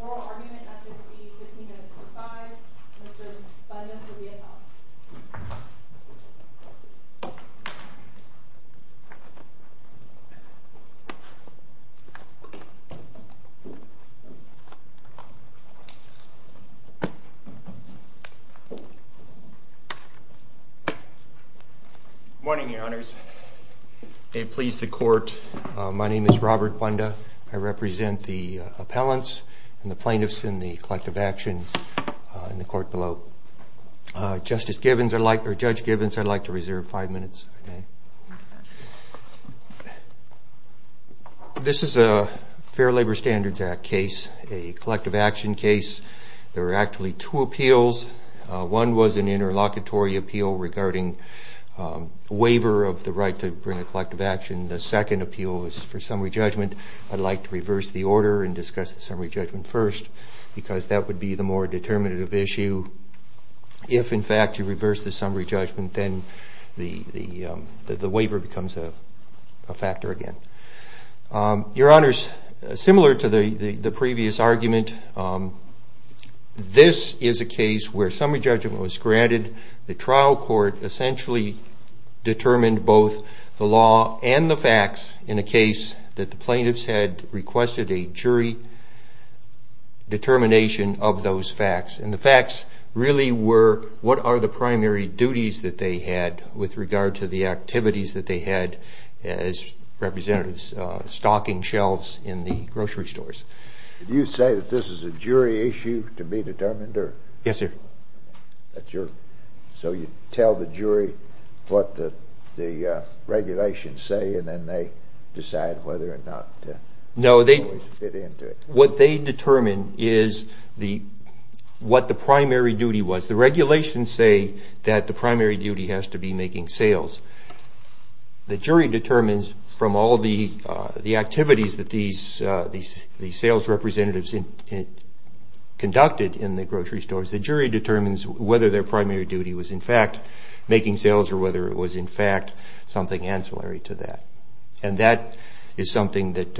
ORAL ARGUMENT AT 15 MINUTES PER SIDE MR. BUDGET WILL BE AT HALF MR. BUNDA Good morning, your honors. I am pleased to court. My name is Robert Bunda. I represent the appellants and the plaintiffs in the collective action in the court below. Justice Gibbons, I'd like, or Judge Gibbons, I'd like to reserve five minutes. This is a Fair Labor Standards Act case, a collective action case. There are actually two appeals. One was an interlocutory appeal regarding waiver of the right to bring a collective action. The second appeal was for summary judgment. I'd like to reverse the order and discuss the summary judgment first because that would be the more determinative issue. If, in fact, you reverse the summary judgment, then the waiver becomes a factor again. Your honors, similar to the previous argument, this is a case where summary judgment was granted. The trial court essentially determined both the law and the facts in a case that the plaintiffs had requested a jury determination of those facts. The facts really were what are the primary duties that they had with regard to the activities that they had as representatives, stocking shelves in the grocery stores. Did you say that this is a jury issue to be determined? Yes, sir. So you tell the jury what the regulations say and then they decide whether or not to always fit into it. What they determine is what the primary duty was. The regulations say that the primary duty has to be making sales. The jury determines from all the activities that these sales representatives conducted in the grocery stores, the jury determines whether their primary duty was, in fact, making sales or whether it was, in fact, something ancillary to that. And that is something that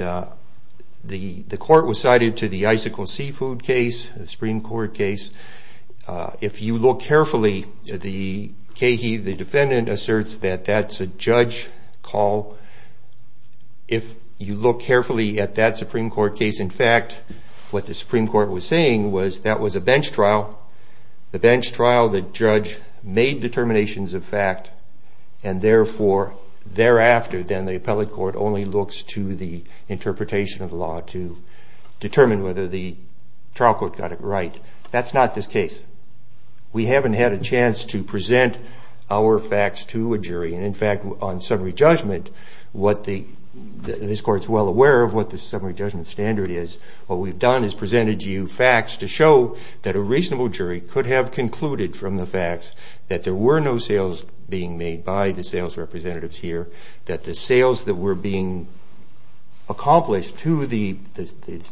the court was cited to the Icicle Seafood case, the Supreme Court case. If you look carefully, the kahee, the defendant, asserts that that's a judge call. If you look carefully at that Supreme Court case, in fact, what the Supreme Court was saying was that was a bench trial. The bench trial, the judge made determinations of fact and therefore, thereafter, then the appellate court only looks to the interpretation of the law to determine whether the trial court got it right. That's not this case. We haven't had a chance to present our facts to a jury. And in fact, on summary judgment, this court's well aware of what the summary judgment standard is. What we've done is presented you facts to show that a reasonable jury could have concluded from the facts that there were no sales being made by the sales representatives here, that the sales that were being accomplished to the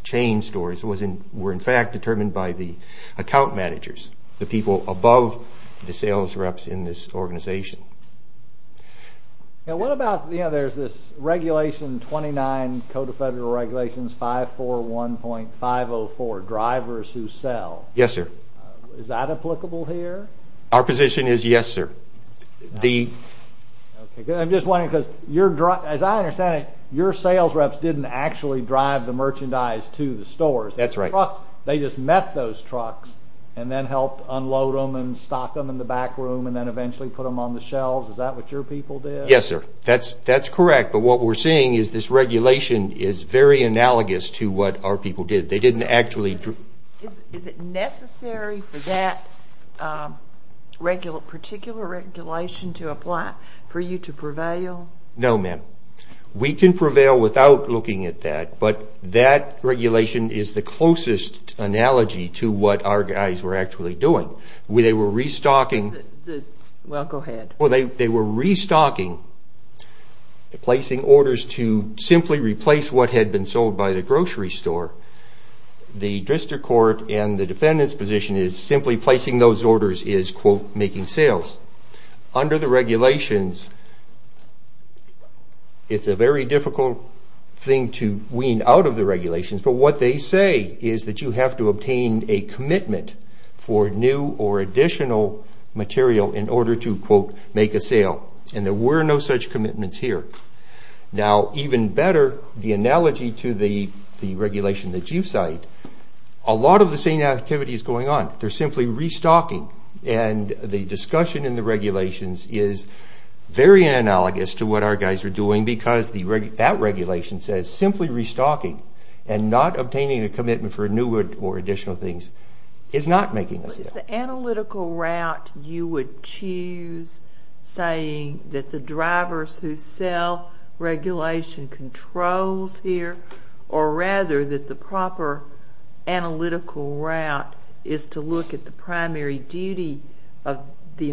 chain stores were, in fact, determined by the account managers, the people above the sales reps in this organization. Now, what about, you know, there's this regulation 29, Code of Federal Regulations 541.504, drivers who sell. Yes, sir. Is that applicable here? Our position is yes, sir. The I'm just wondering because you're, as I understand it, your sales reps didn't actually drive the merchandise to the stores. That's right. They just met those trucks and then helped unload them and stock them in the back room and then eventually put them on the shelves. Is that what your people did? Yes, sir. That's correct. But what we're seeing is this regulation is very analogous to what our people did. They didn't actually... Is it necessary for that particular regulation to apply for you to prevail? No, ma'am. We can prevail without looking at that, but that regulation is the closest analogy to what our guys were actually doing. They were restocking... Well, go ahead. They were restocking, placing orders to simply replace what had been sold by the grocery store. The district court and the defendant's position is simply placing those orders is, quote, making sales. Under the regulations, it's a very difficult thing to wean out of the regulations, but what they say is that you have to obtain a commitment for new or additional material in order to, quote, make a sale. And there were no such commitments here. Now, even better, the analogy to the regulation that you cite, a lot of the same activity is going on. They're simply restocking, and the discussion in the regulations is very analogous to what our guys are doing because that regulation says simply restocking and not obtaining a commitment for new or additional things is not making a sale. Is the analytical route you would choose saying that the drivers who sell regulation controls here, or rather that the proper analytical route is to look at the primary duty of the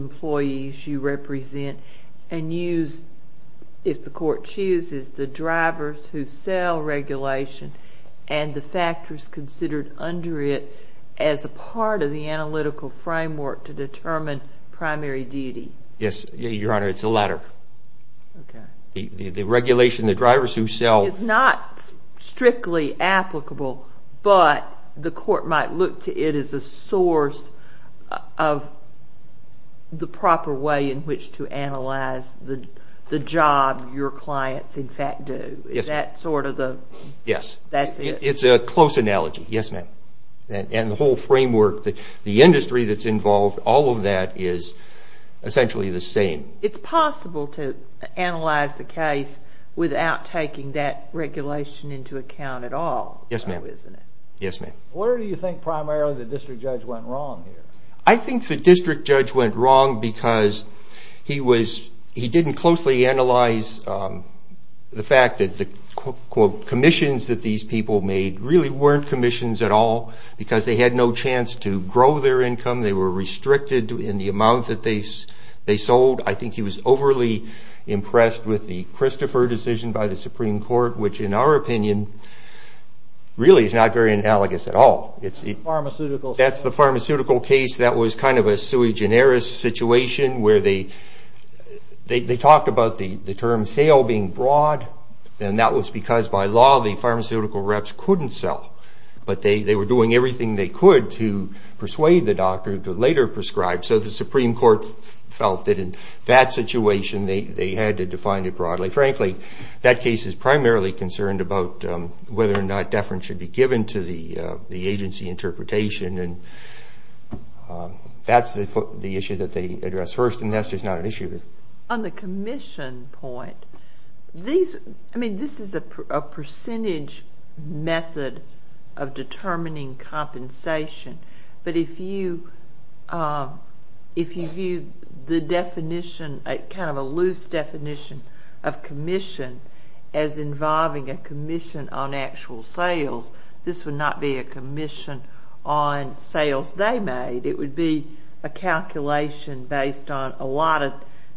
if the court chooses, the drivers who sell regulation and the factors considered under it as a part of the analytical framework to determine primary duty? Yes, Your Honor, it's the latter. The regulation, the drivers who sell... It's not strictly applicable, but the court might look to it as a source of the proper way in which to analyze the job your clients, in fact, do. Is that sort of the... Yes. That's it. It's a close analogy. Yes, ma'am. And the whole framework, the industry that's involved, all of that is essentially the same. It's possible to analyze the case without taking that regulation into account at all, though, isn't it? Yes, ma'am. Yes, ma'am. Where do you think primarily the district judge went wrong here? I think the district judge went wrong because he didn't closely analyze the fact that the commissions that these people made really weren't commissions at all because they had no chance to grow their income. They were restricted in the amount that they sold. I think he was overly impressed with the Christopher decision by the Supreme Court, which in our opinion really is not very analogous at all. That's the pharmaceutical case. That was kind of a sui generis situation where they talked about the term sale being broad and that was because by law the pharmaceutical reps couldn't sell. But they were doing everything they could to persuade the doctor to later prescribe. So the Supreme Court felt that in that situation they had to define it broadly. Frankly, that case is primarily concerned about whether or not deference should be given to the agency interpretation. That's the issue that they addressed first and that's just not an issue. On the commission point, this is a percentage method of determining compensation, but if you view the definition, kind of a loose definition of commission as involving a commission on actual sales, this would not be a commission on sales they made. It would be a calculation based on a lot of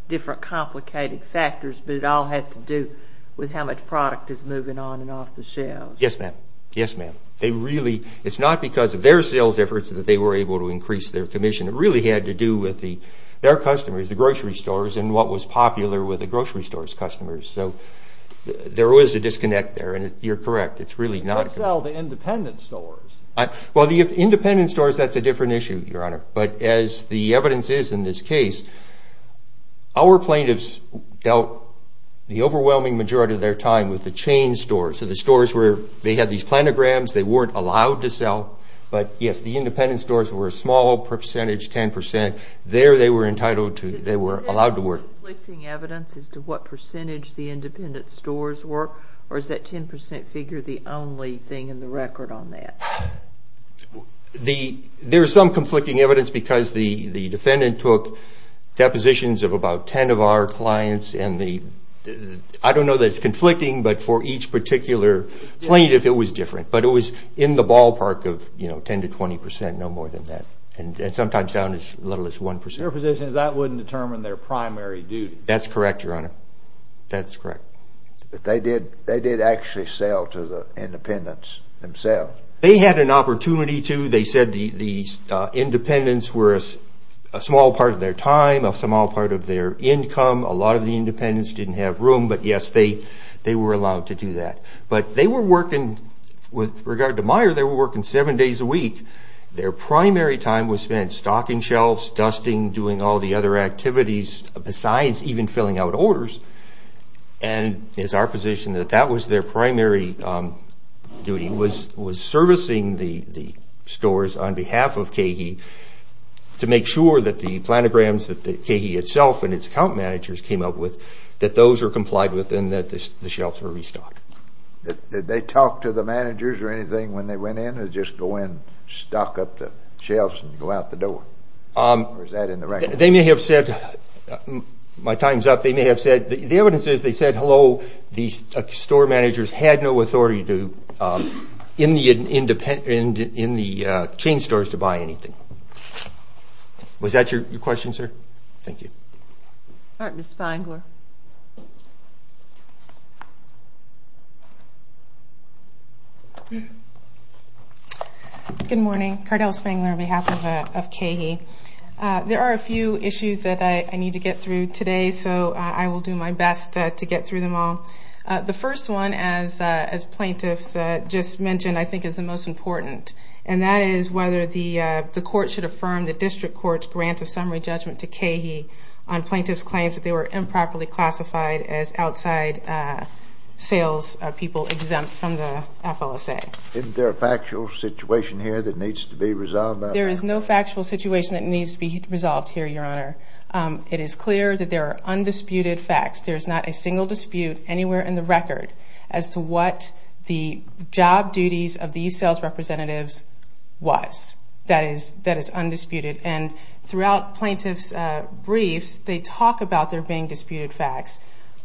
different complicated factors, but it all has to do with how much product is moving on and off the shelves. Yes, ma'am. Yes, ma'am. It's not because of their sales efforts that they were able to increase their commission. It really had to do with their customers, the grocery stores, and what was popular with the grocery store's customers. So there was a disconnect there and you're correct. It's really not. What about the independent stores? Well, the independent stores, that's a different issue, Your Honor. But as the evidence is in this case, our plaintiffs dealt the overwhelming majority of their time with the chain stores, so the stores where they had these planograms, they weren't allowed to sell. But yes, the independent stores were a small percentage, 10%. There they were entitled to, they were allowed to work. Is there conflicting evidence as to what percentage the independent stores were, or is that 10% figure the only thing in the record on that? There's some conflicting evidence because the defendant took depositions of about 10 of our clients and the... I don't know that it's conflicting, but for each particular plaintiff, it was different. But it was in the ballpark of 10 to 20%, no more than that, and sometimes down as little as 1%. So your position is that wouldn't determine their primary duty? That's correct, Your Honor. That's correct. They did actually sell to the independents themselves. They had an opportunity to. They said the independents were a small part of their time, a small part of their income. A lot of the independents didn't have room, but yes, they were allowed to do that. But they were working, with regard to Meyer, they were working seven days a week. Their primary time was spent stocking shelves, dusting, doing all the other activities, besides even filling out orders. And it's our position that that was their primary duty, was servicing the stores on behalf of KEHI to make sure that the planograms that KEHI itself and its account managers came up with, that those are complied with and that the shelves were restocked. Did they talk to the managers or anything when they went in, or just go in, stock up the shelves and go out the door? Or is that in the record? They may have said, my time's up, they may have said, the evidence is they said, hello, the store managers had no authority in the chain stores to buy anything. Was that your question, sir? Thank you. All right, Ms. Feingler. Good morning, Cardell Feingler on behalf of KEHI. There are a few issues that I need to get through today, so I will do my best to get through them all. The first one, as plaintiffs just mentioned, I think is the most important. And that is whether the court should affirm the district court's grant of summary judgment to KEHI on plaintiffs' claims that they were improperly classified as outside sales people exempt from the FLSA. Isn't there a factual situation here that needs to be resolved? There is no factual situation that needs to be resolved here, Your Honor. It is clear that there are undisputed facts. There's not a single dispute anywhere in the record as to what the job duties of these sales representatives was. That is undisputed. And throughout plaintiffs' briefs, they talk about there being disputed facts,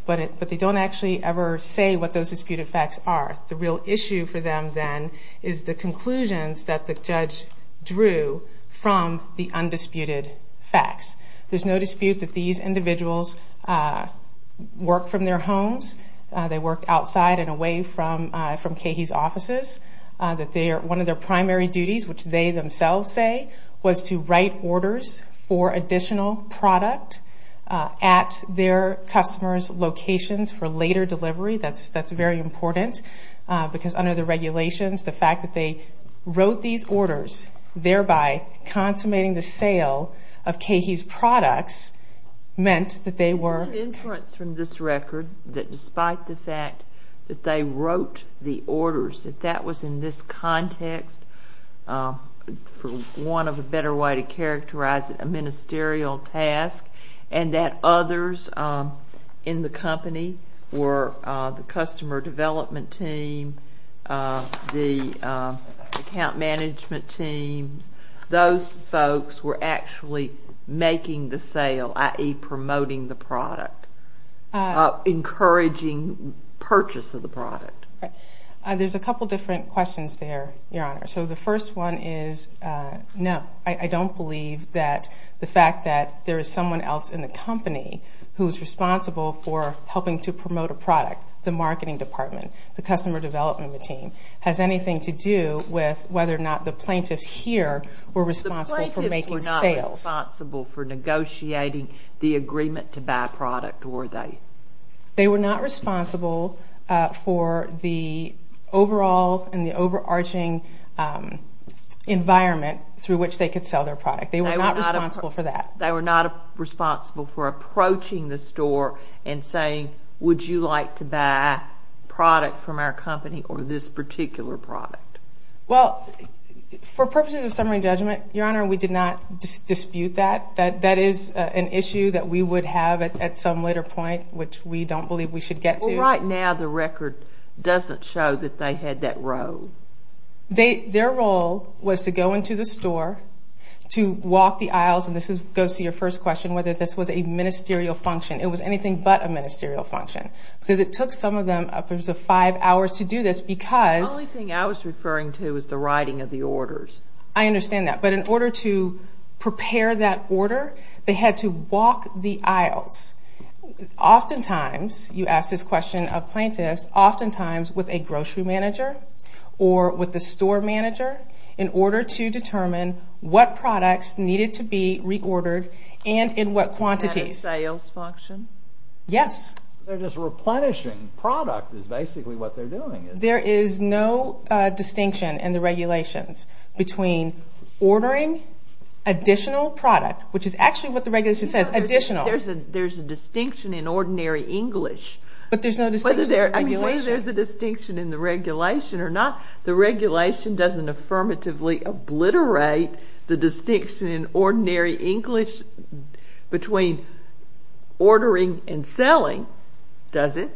but they don't actually ever say what those disputed facts are. The real issue for them, then, is the conclusions that the judge drew from the undisputed facts. There's no dispute that these individuals work from their homes. They work outside and away from KEHI's offices. One of their primary duties, which they themselves say, was to write orders for additional product at their customers' locations for later delivery. That's very important, because under the regulations, the fact that they wrote these orders, thereby consummating the sale of KEHI's products, meant that they were... That was in this context, for want of a better way to characterize it, a ministerial task, and that others in the company were the customer development team, the account management teams. Those folks were actually making the sale, i.e., promoting the product, encouraging purchase of the product. There's a couple different questions there, Your Honor. The first one is, no, I don't believe that the fact that there is someone else in the company who's responsible for helping to promote a product, the marketing department, the customer development team, has anything to do with whether or not the plaintiffs here were responsible for making sales. The plaintiffs were not responsible for negotiating the agreement to buy product, were they? They were not responsible for the overall and the overarching environment through which they could sell their product. They were not responsible for that. They were not responsible for approaching the store and saying, would you like to buy product from our company or this particular product? Well, for purposes of summary judgment, Your Honor, we did not dispute that. That is an issue that we would have at some later point, which we don't believe we should get to. Well, right now, the record doesn't show that they had that role. Their role was to go into the store, to walk the aisles, and this goes to your first question, whether this was a ministerial function. It was anything but a ministerial function because it took some of them up to five hours to do this because The only thing I was referring to was the writing of the orders. I understand that. But in order to prepare that order, they had to walk the aisles. Oftentimes, you ask this question of plaintiffs, oftentimes with a grocery manager or with the store manager in order to determine what products needed to be reordered and in what quantities. Was that a sales function? Yes. They're just replenishing product is basically what they're doing. There is no distinction in the regulations between ordering additional product, which is actually what the regulation says, additional. There's a distinction in ordinary English. But there's no distinction in the regulation. Whether there's a distinction in the regulation or not, the regulation doesn't affirmatively obliterate the distinction in ordinary English between ordering and selling, does it?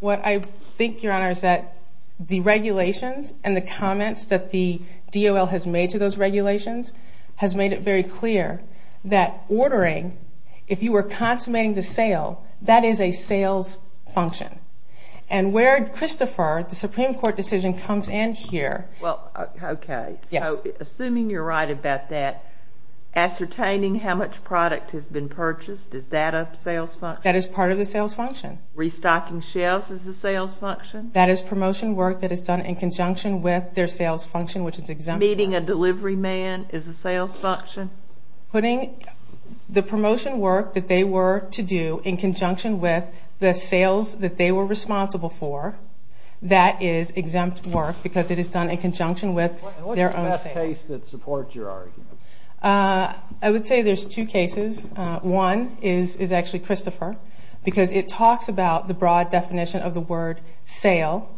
What I think, Your Honor, is that the regulations and the comments that the DOL has made to those regulations has made it very clear that ordering, if you were consummating the sale, that is a sales function. And where Christopher, the Supreme Court decision comes in here Well, okay. Yes. Assuming you're right about that, ascertaining how much product has been purchased, is that a sales function? That is part of the sales function. Restocking shelves is a sales function? That is promotion work that is done in conjunction with their sales function, which is exempt. Meeting a delivery man is a sales function? Putting the promotion work that they were to do in conjunction with the sales that they were responsible for, that is exempt work because it is done in conjunction with their own sales. And what's the best case that supports your argument? I would say there's two cases. One is actually Christopher, because it talks about the broad definition of the word sale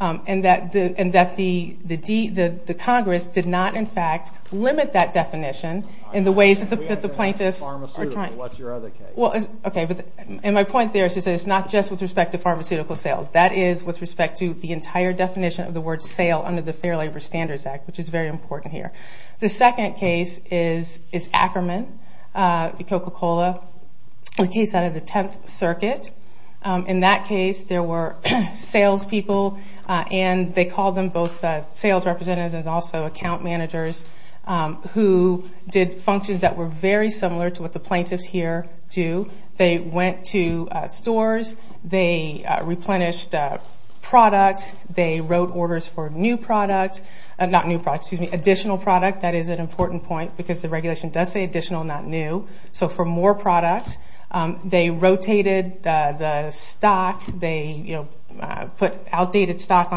and that the Congress did not, in fact, limit that definition in the ways that the plaintiffs are trying. What's your other case? Okay, and my point there is to say it's not just with respect to pharmaceutical sales. That is with respect to the entire definition of the word sale under the Fair Labor Standards Act, which is very important here. The second case is Ackerman, Coca-Cola, a case out of the Tenth Circuit. In that case, there were salespeople, and they called them both sales representatives and also account managers who did functions that were very similar to what the plaintiffs here do. They went to stores. They replenished product. They wrote orders for new product. Not new product, excuse me, additional product. That is an important point because the regulation does say additional, not new. So for more product, they rotated the stock. They, you know, put outdated stock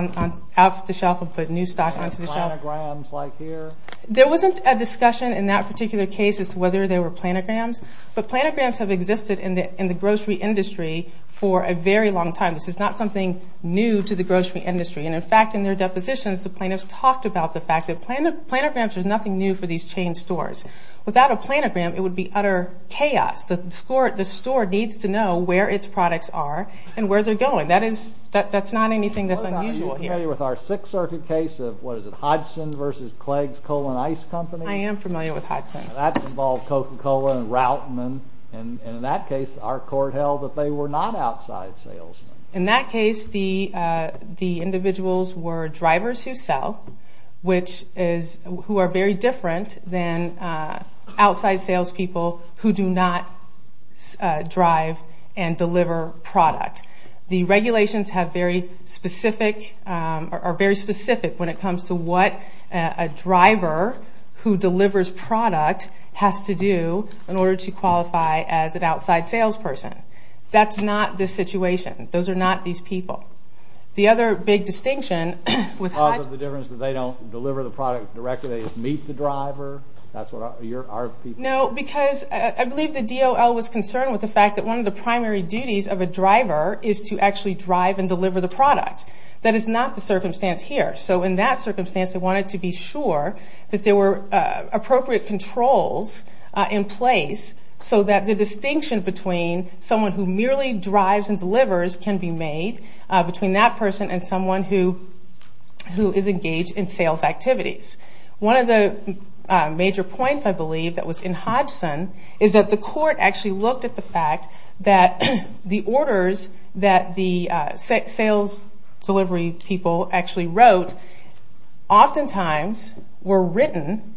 off the shelf and put new stock onto the shelf. Planograms like here? There wasn't a discussion in that particular case as to whether there were planograms, but planograms have existed in the grocery industry for a very long time. This is not something new to the grocery industry. And, in fact, in their depositions, the plaintiffs talked about the fact that planograms are nothing new for these chain stores. Without a planogram, it would be utter chaos. The store needs to know where its products are and where they're going. That's not anything that's unusual here. Are you familiar with our Sixth Circuit case of, what is it, Hodgson v. Clegg's Coal & Ice Company? I am familiar with Hodgson. That involved Coca-Cola and Routman. And in that case, our court held that they were not outside salesmen. In that case, the individuals were drivers who sell, who are very different than outside salespeople who do not drive and deliver product. The regulations are very specific when it comes to what a driver who delivers product has to do in order to qualify as an outside salesperson. That's not this situation. Those are not these people. The other big distinction with Hodgson. Because of the difference that they don't deliver the product directly. They meet the driver. That's what our people do. No, because I believe the DOL was concerned with the fact that one of the primary duties of a driver is to actually drive and deliver the product. That is not the circumstance here. In that circumstance, they wanted to be sure that there were appropriate controls in place so that the distinction between someone who merely drives and delivers can be made between that person and someone who is engaged in sales activities. One of the major points, I believe, that was in Hodgson is that the court actually looked at the fact that the orders that the sales delivery people actually wrote oftentimes were written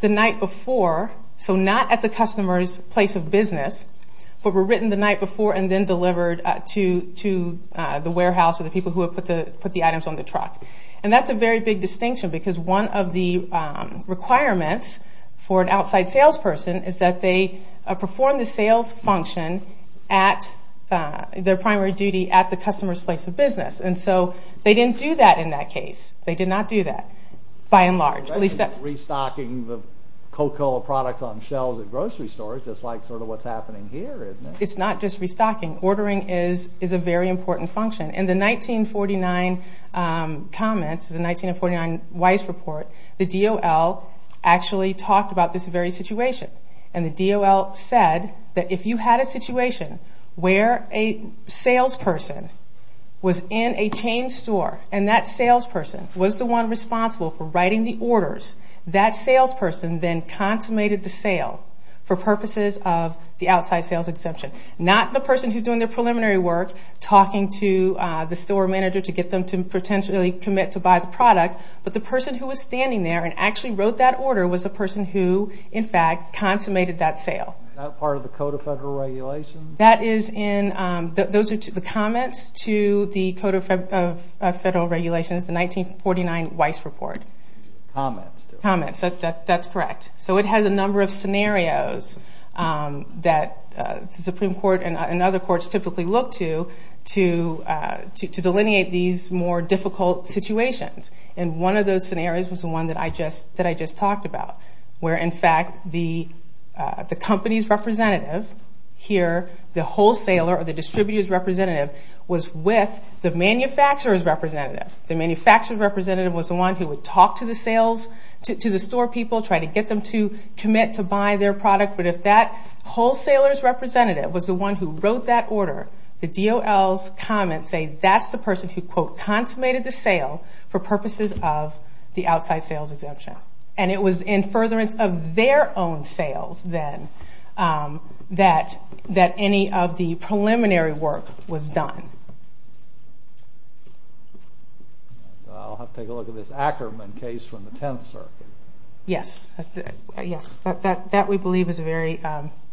the night before, so not at the customer's place of business, but were written the night before and then delivered to the warehouse or the people who put the items on the truck. That's a very big distinction because one of the requirements for an outside salesperson is that they perform the sales function at their primary duty at the customer's place of business. And so they didn't do that in that case. They did not do that, by and large. Restocking the Coca-Cola products on shelves at grocery stores, just like sort of what's happening here, isn't it? It's not just restocking. Ordering is a very important function. In the 1949 comments, the 1949 Weiss Report, the DOL actually talked about this very situation. And the DOL said that if you had a situation where a salesperson was in a chain store and that salesperson was the one responsible for writing the orders, that salesperson then consummated the sale for purposes of the outside sales exemption. Not the person who's doing their preliminary work, talking to the store manager to get them to potentially commit to buy the product, but the person who was standing there and actually wrote that order was the person who, in fact, consummated that sale. Is that part of the Code of Federal Regulations? Those are the comments to the Code of Federal Regulations, the 1949 Weiss Report. Comments. Comments, that's correct. So it has a number of scenarios that the Supreme Court and other courts typically look to to delineate these more difficult situations. And one of those scenarios was the one that I just talked about, where, in fact, the company's representative here, the wholesaler or the distributor's representative, was with the manufacturer's representative. The manufacturer's representative was the one who would talk to the store people, try to get them to commit to buy their product. But if that wholesaler's representative was the one who wrote that order, the DOL's comments say that's the person who, quote, consummated the sale for purposes of the outside sales exemption. And it was in furtherance of their own sales, then, that any of the preliminary work was done. I'll have to take a look at this Ackerman case from the 10th, sir. Yes. Yes, that we believe is a very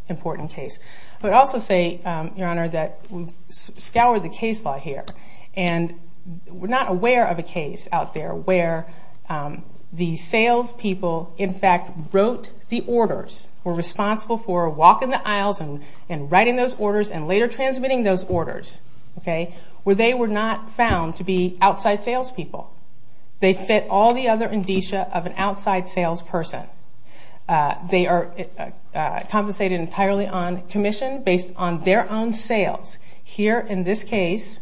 important case. I would also say, Your Honor, that we've scoured the case law here, and we're not aware of a case out there where the salespeople, in fact, wrote the orders, were responsible for walking the aisles and writing those orders and later transmitting those orders, okay, where they were not found to be outside salespeople. They fit all the other indicia of an outside salesperson. They are compensated entirely on commission based on their own sales. Here, in this case,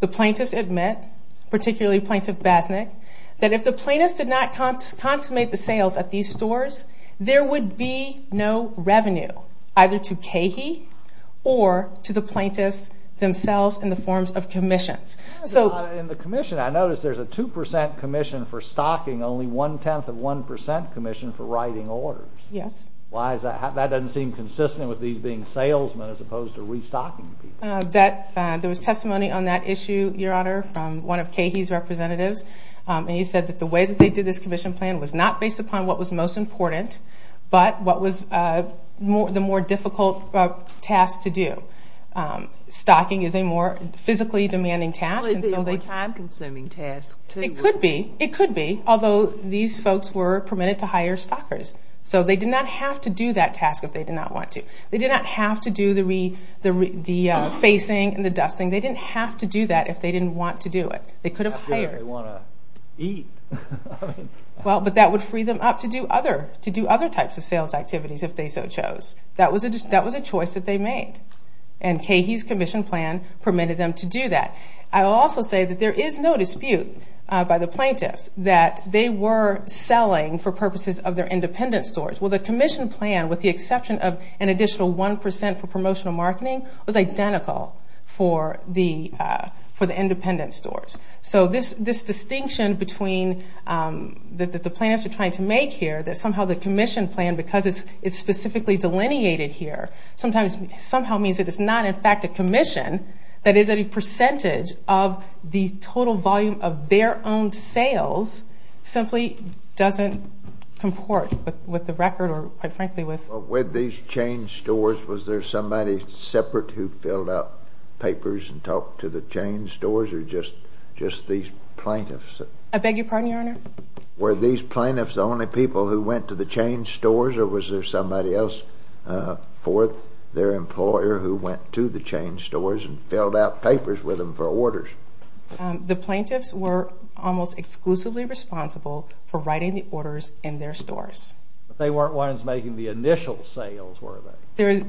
the plaintiffs admit, particularly Plaintiff Basnick, that if the plaintiffs did not consummate the sales at these stores, there would be no revenue, either to CAHI or to the plaintiffs themselves in the forms of commissions. In the commission, I notice there's a 2% commission for stocking, and only one-tenth of 1% commission for writing orders. Yes. Why is that? That doesn't seem consistent with these being salesmen as opposed to restocking people. There was testimony on that issue, Your Honor, from one of CAHI's representatives, and he said that the way that they did this commission plan was not based upon what was most important, but what was the more difficult task to do. Stocking is a more physically demanding task. It would be a more time-consuming task, too. It could be. It could be, although these folks were permitted to hire stockers. So they did not have to do that task if they did not want to. They did not have to do the facing and the dusting. They didn't have to do that if they didn't want to do it. They could have hired. If they want to eat. Well, but that would free them up to do other types of sales activities, if they so chose. That was a choice that they made, and CAHI's commission plan permitted them to do that. I will also say that there is no dispute by the plaintiffs that they were selling for purposes of their independent stores. Well, the commission plan, with the exception of an additional 1% for promotional marketing, was identical for the independent stores. So this distinction that the plaintiffs are trying to make here, that somehow the commission plan, because it's specifically delineated here, sometimes somehow means it is not, in fact, a commission, that is a percentage of the total volume of their own sales, simply doesn't comport with the record or, quite frankly, with. With these chain stores, was there somebody separate who filled out papers and talked to the chain stores, or just these plaintiffs? I beg your pardon, Your Honor? Were these plaintiffs the only people who went to the chain stores, or was there somebody else for their employer who went to the chain stores and filled out papers with them for orders? The plaintiffs were almost exclusively responsible for writing the orders in their stores. But they weren't the ones making the initial sales, were they?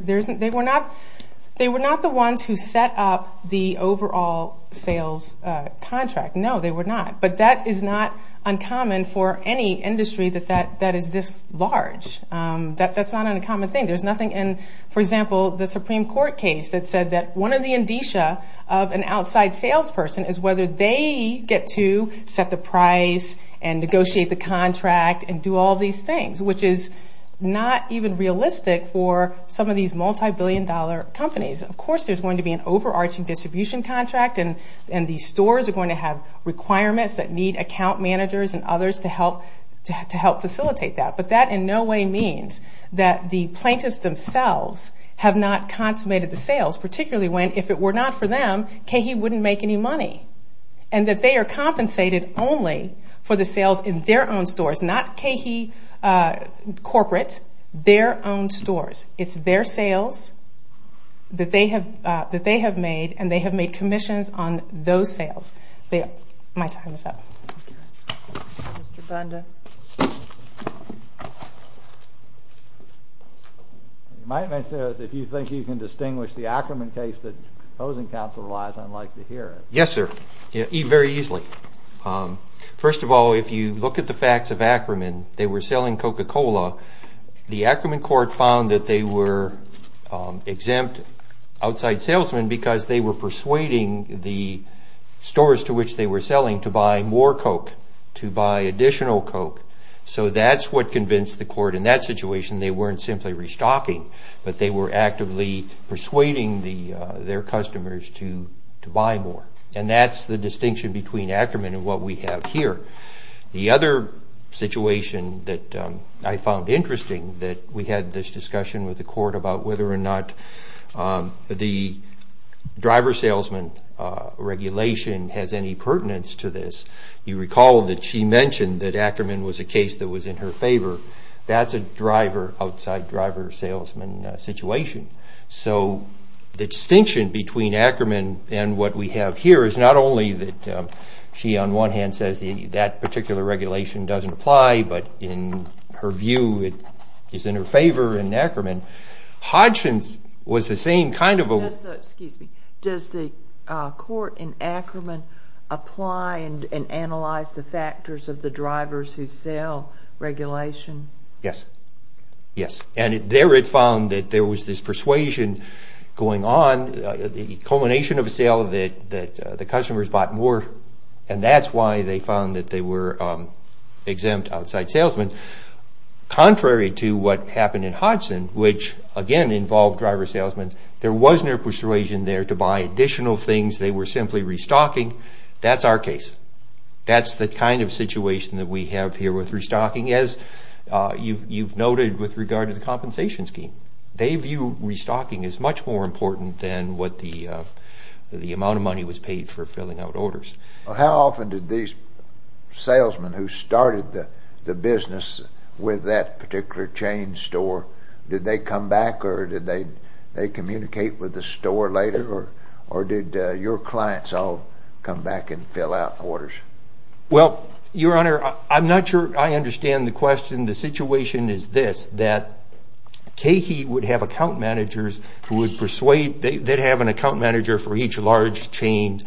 They were not the ones who set up the overall sales contract. No, they were not. But that is not uncommon for any industry that is this large. That's not an uncommon thing. There's nothing in, for example, the Supreme Court case that said that one of the indicia of an outside salesperson is whether they get to set the price and negotiate the contract and do all these things, which is not even realistic for some of these multibillion-dollar companies. Of course, there's going to be an overarching distribution contract, and these stores are going to have requirements that need account managers and others to help facilitate that. But that in no way means that the plaintiffs themselves have not consummated the sales, particularly when, if it were not for them, Cahie wouldn't make any money, and that they are compensated only for the sales in their own stores, not Cahie Corporate, their own stores. It's their sales that they have made, and they have made commissions on those sales. My time is up. Mr. Banda. You might mention if you think you can distinguish the Ackerman case that opposing counsel relies on, I'd like to hear it. Yes, sir, very easily. First of all, if you look at the facts of Ackerman, they were selling Coca-Cola. The Ackerman court found that they were exempt outside salesmen because they were persuading the stores to which they were selling to buy more Coke, to buy additional Coke. So that's what convinced the court in that situation. They weren't simply restocking, but they were actively persuading their customers to buy more. And that's the distinction between Ackerman and what we have here. The other situation that I found interesting that we had this discussion with the court about whether or not the driver-salesman regulation has any pertinence to this, you recall that she mentioned that Ackerman was a case that was in her favor. That's an outside driver-salesman situation. So the distinction between Ackerman and what we have here is not only that she, on one hand, says that particular regulation doesn't apply, but in her view it is in her favor in Ackerman. Hodgkin was the same kind of a... Excuse me. Does the court in Ackerman apply and analyze the factors of the drivers-who-sell regulation? Yes, yes. And there it found that there was this persuasion going on, the culmination of a sale that the customers bought more, and that's why they found that they were exempt outside salesmen. Contrary to what happened in Hodgkin, which, again, involved driver-salesmen, there was no persuasion there to buy additional things. They were simply restocking. That's our case. That's the kind of situation that we have here with restocking. As you've noted with regard to the compensation scheme, they view restocking as much more important than what the amount of money was paid for filling out orders. How often did these salesmen who started the business with that particular chain store, did they come back or did they communicate with the store later, or did your clients all come back and fill out orders? Well, Your Honor, I'm not sure I understand the question. The situation is this, that KEHE would have account managers who would persuade, they'd have an account manager for each large chain,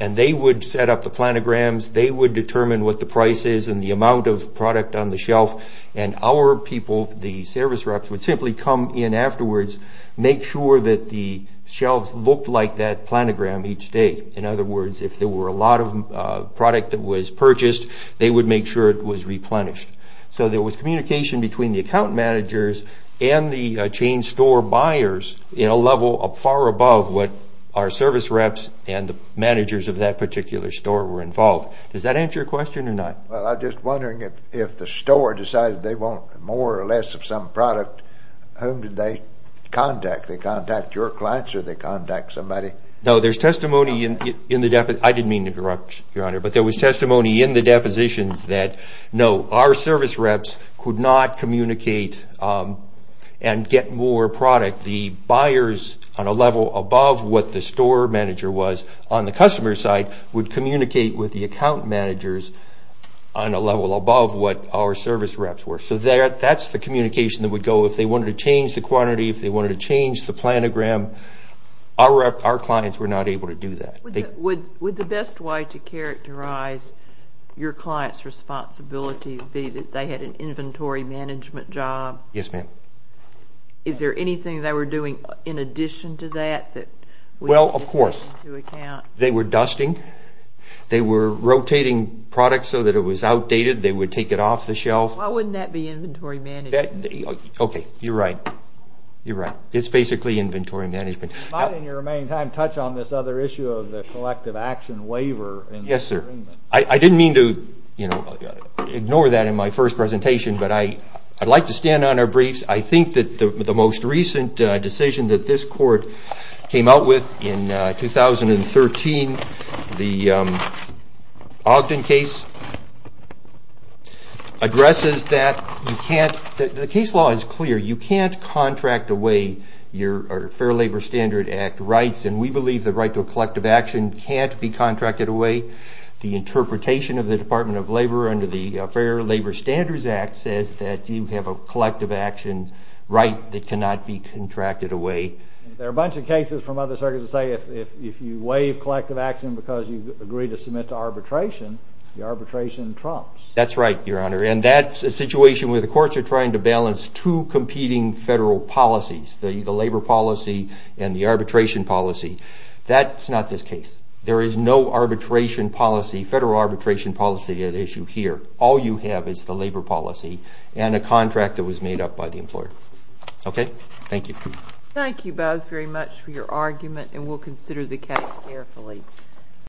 and they would set up the planograms, they would determine what the price is and the amount of product on the shelf, and our people, the service reps, would simply come in afterwards, make sure that the shelves looked like that planogram each day. In other words, if there were a lot of product that was purchased, they would make sure it was replenished. So there was communication between the account managers and the chain store buyers in a level far above what our service reps and the managers of that particular store were involved. Does that answer your question or not? Well, I'm just wondering if the store decided they want more or less of some product, whom did they contact? Did they contact your clients or did they contact somebody? No, there's testimony in the depositions. I didn't mean to interrupt, Your Honor, but there was testimony in the depositions that, no, our service reps could not communicate and get more product. The buyers on a level above what the store manager was on the customer side would communicate with the account managers on a level above what our service reps were. So that's the communication that would go if they wanted to change the quantity, if they wanted to change the planogram. Our clients were not able to do that. Would the best way to characterize your clients' responsibility be that they had an inventory management job? Yes, ma'am. Is there anything they were doing in addition to that that we need to take into account? Well, of course. They were dusting. They were rotating products so that it was outdated. They would take it off the shelf. Why wouldn't that be inventory management? Okay, you're right. You're right. It's basically inventory management. You might, in your remaining time, touch on this other issue of the collective action waiver. Yes, sir. I didn't mean to ignore that in my first presentation, but I'd like to stand on our briefs. I think that the most recent decision that this court came out with in 2013, the Ogden case, addresses that you can't, the case law is clear, you can't contract away your Fair Labor Standards Act rights, and we believe the right to a collective action can't be contracted away. The interpretation of the Department of Labor under the Fair Labor Standards Act says that you have a collective action right that cannot be contracted away. There are a bunch of cases from other circuits that say if you waive collective action because you agree to submit to arbitration, the arbitration trumps. That's right, Your Honor, and that's a situation where the courts are trying to balance two competing federal policies, the labor policy and the arbitration policy. That's not this case. There is no arbitration policy, federal arbitration policy at issue here. All you have is the labor policy and a contract that was made up by the employer. Okay? Thank you. Thank you both very much for your argument, and we'll consider the case carefully.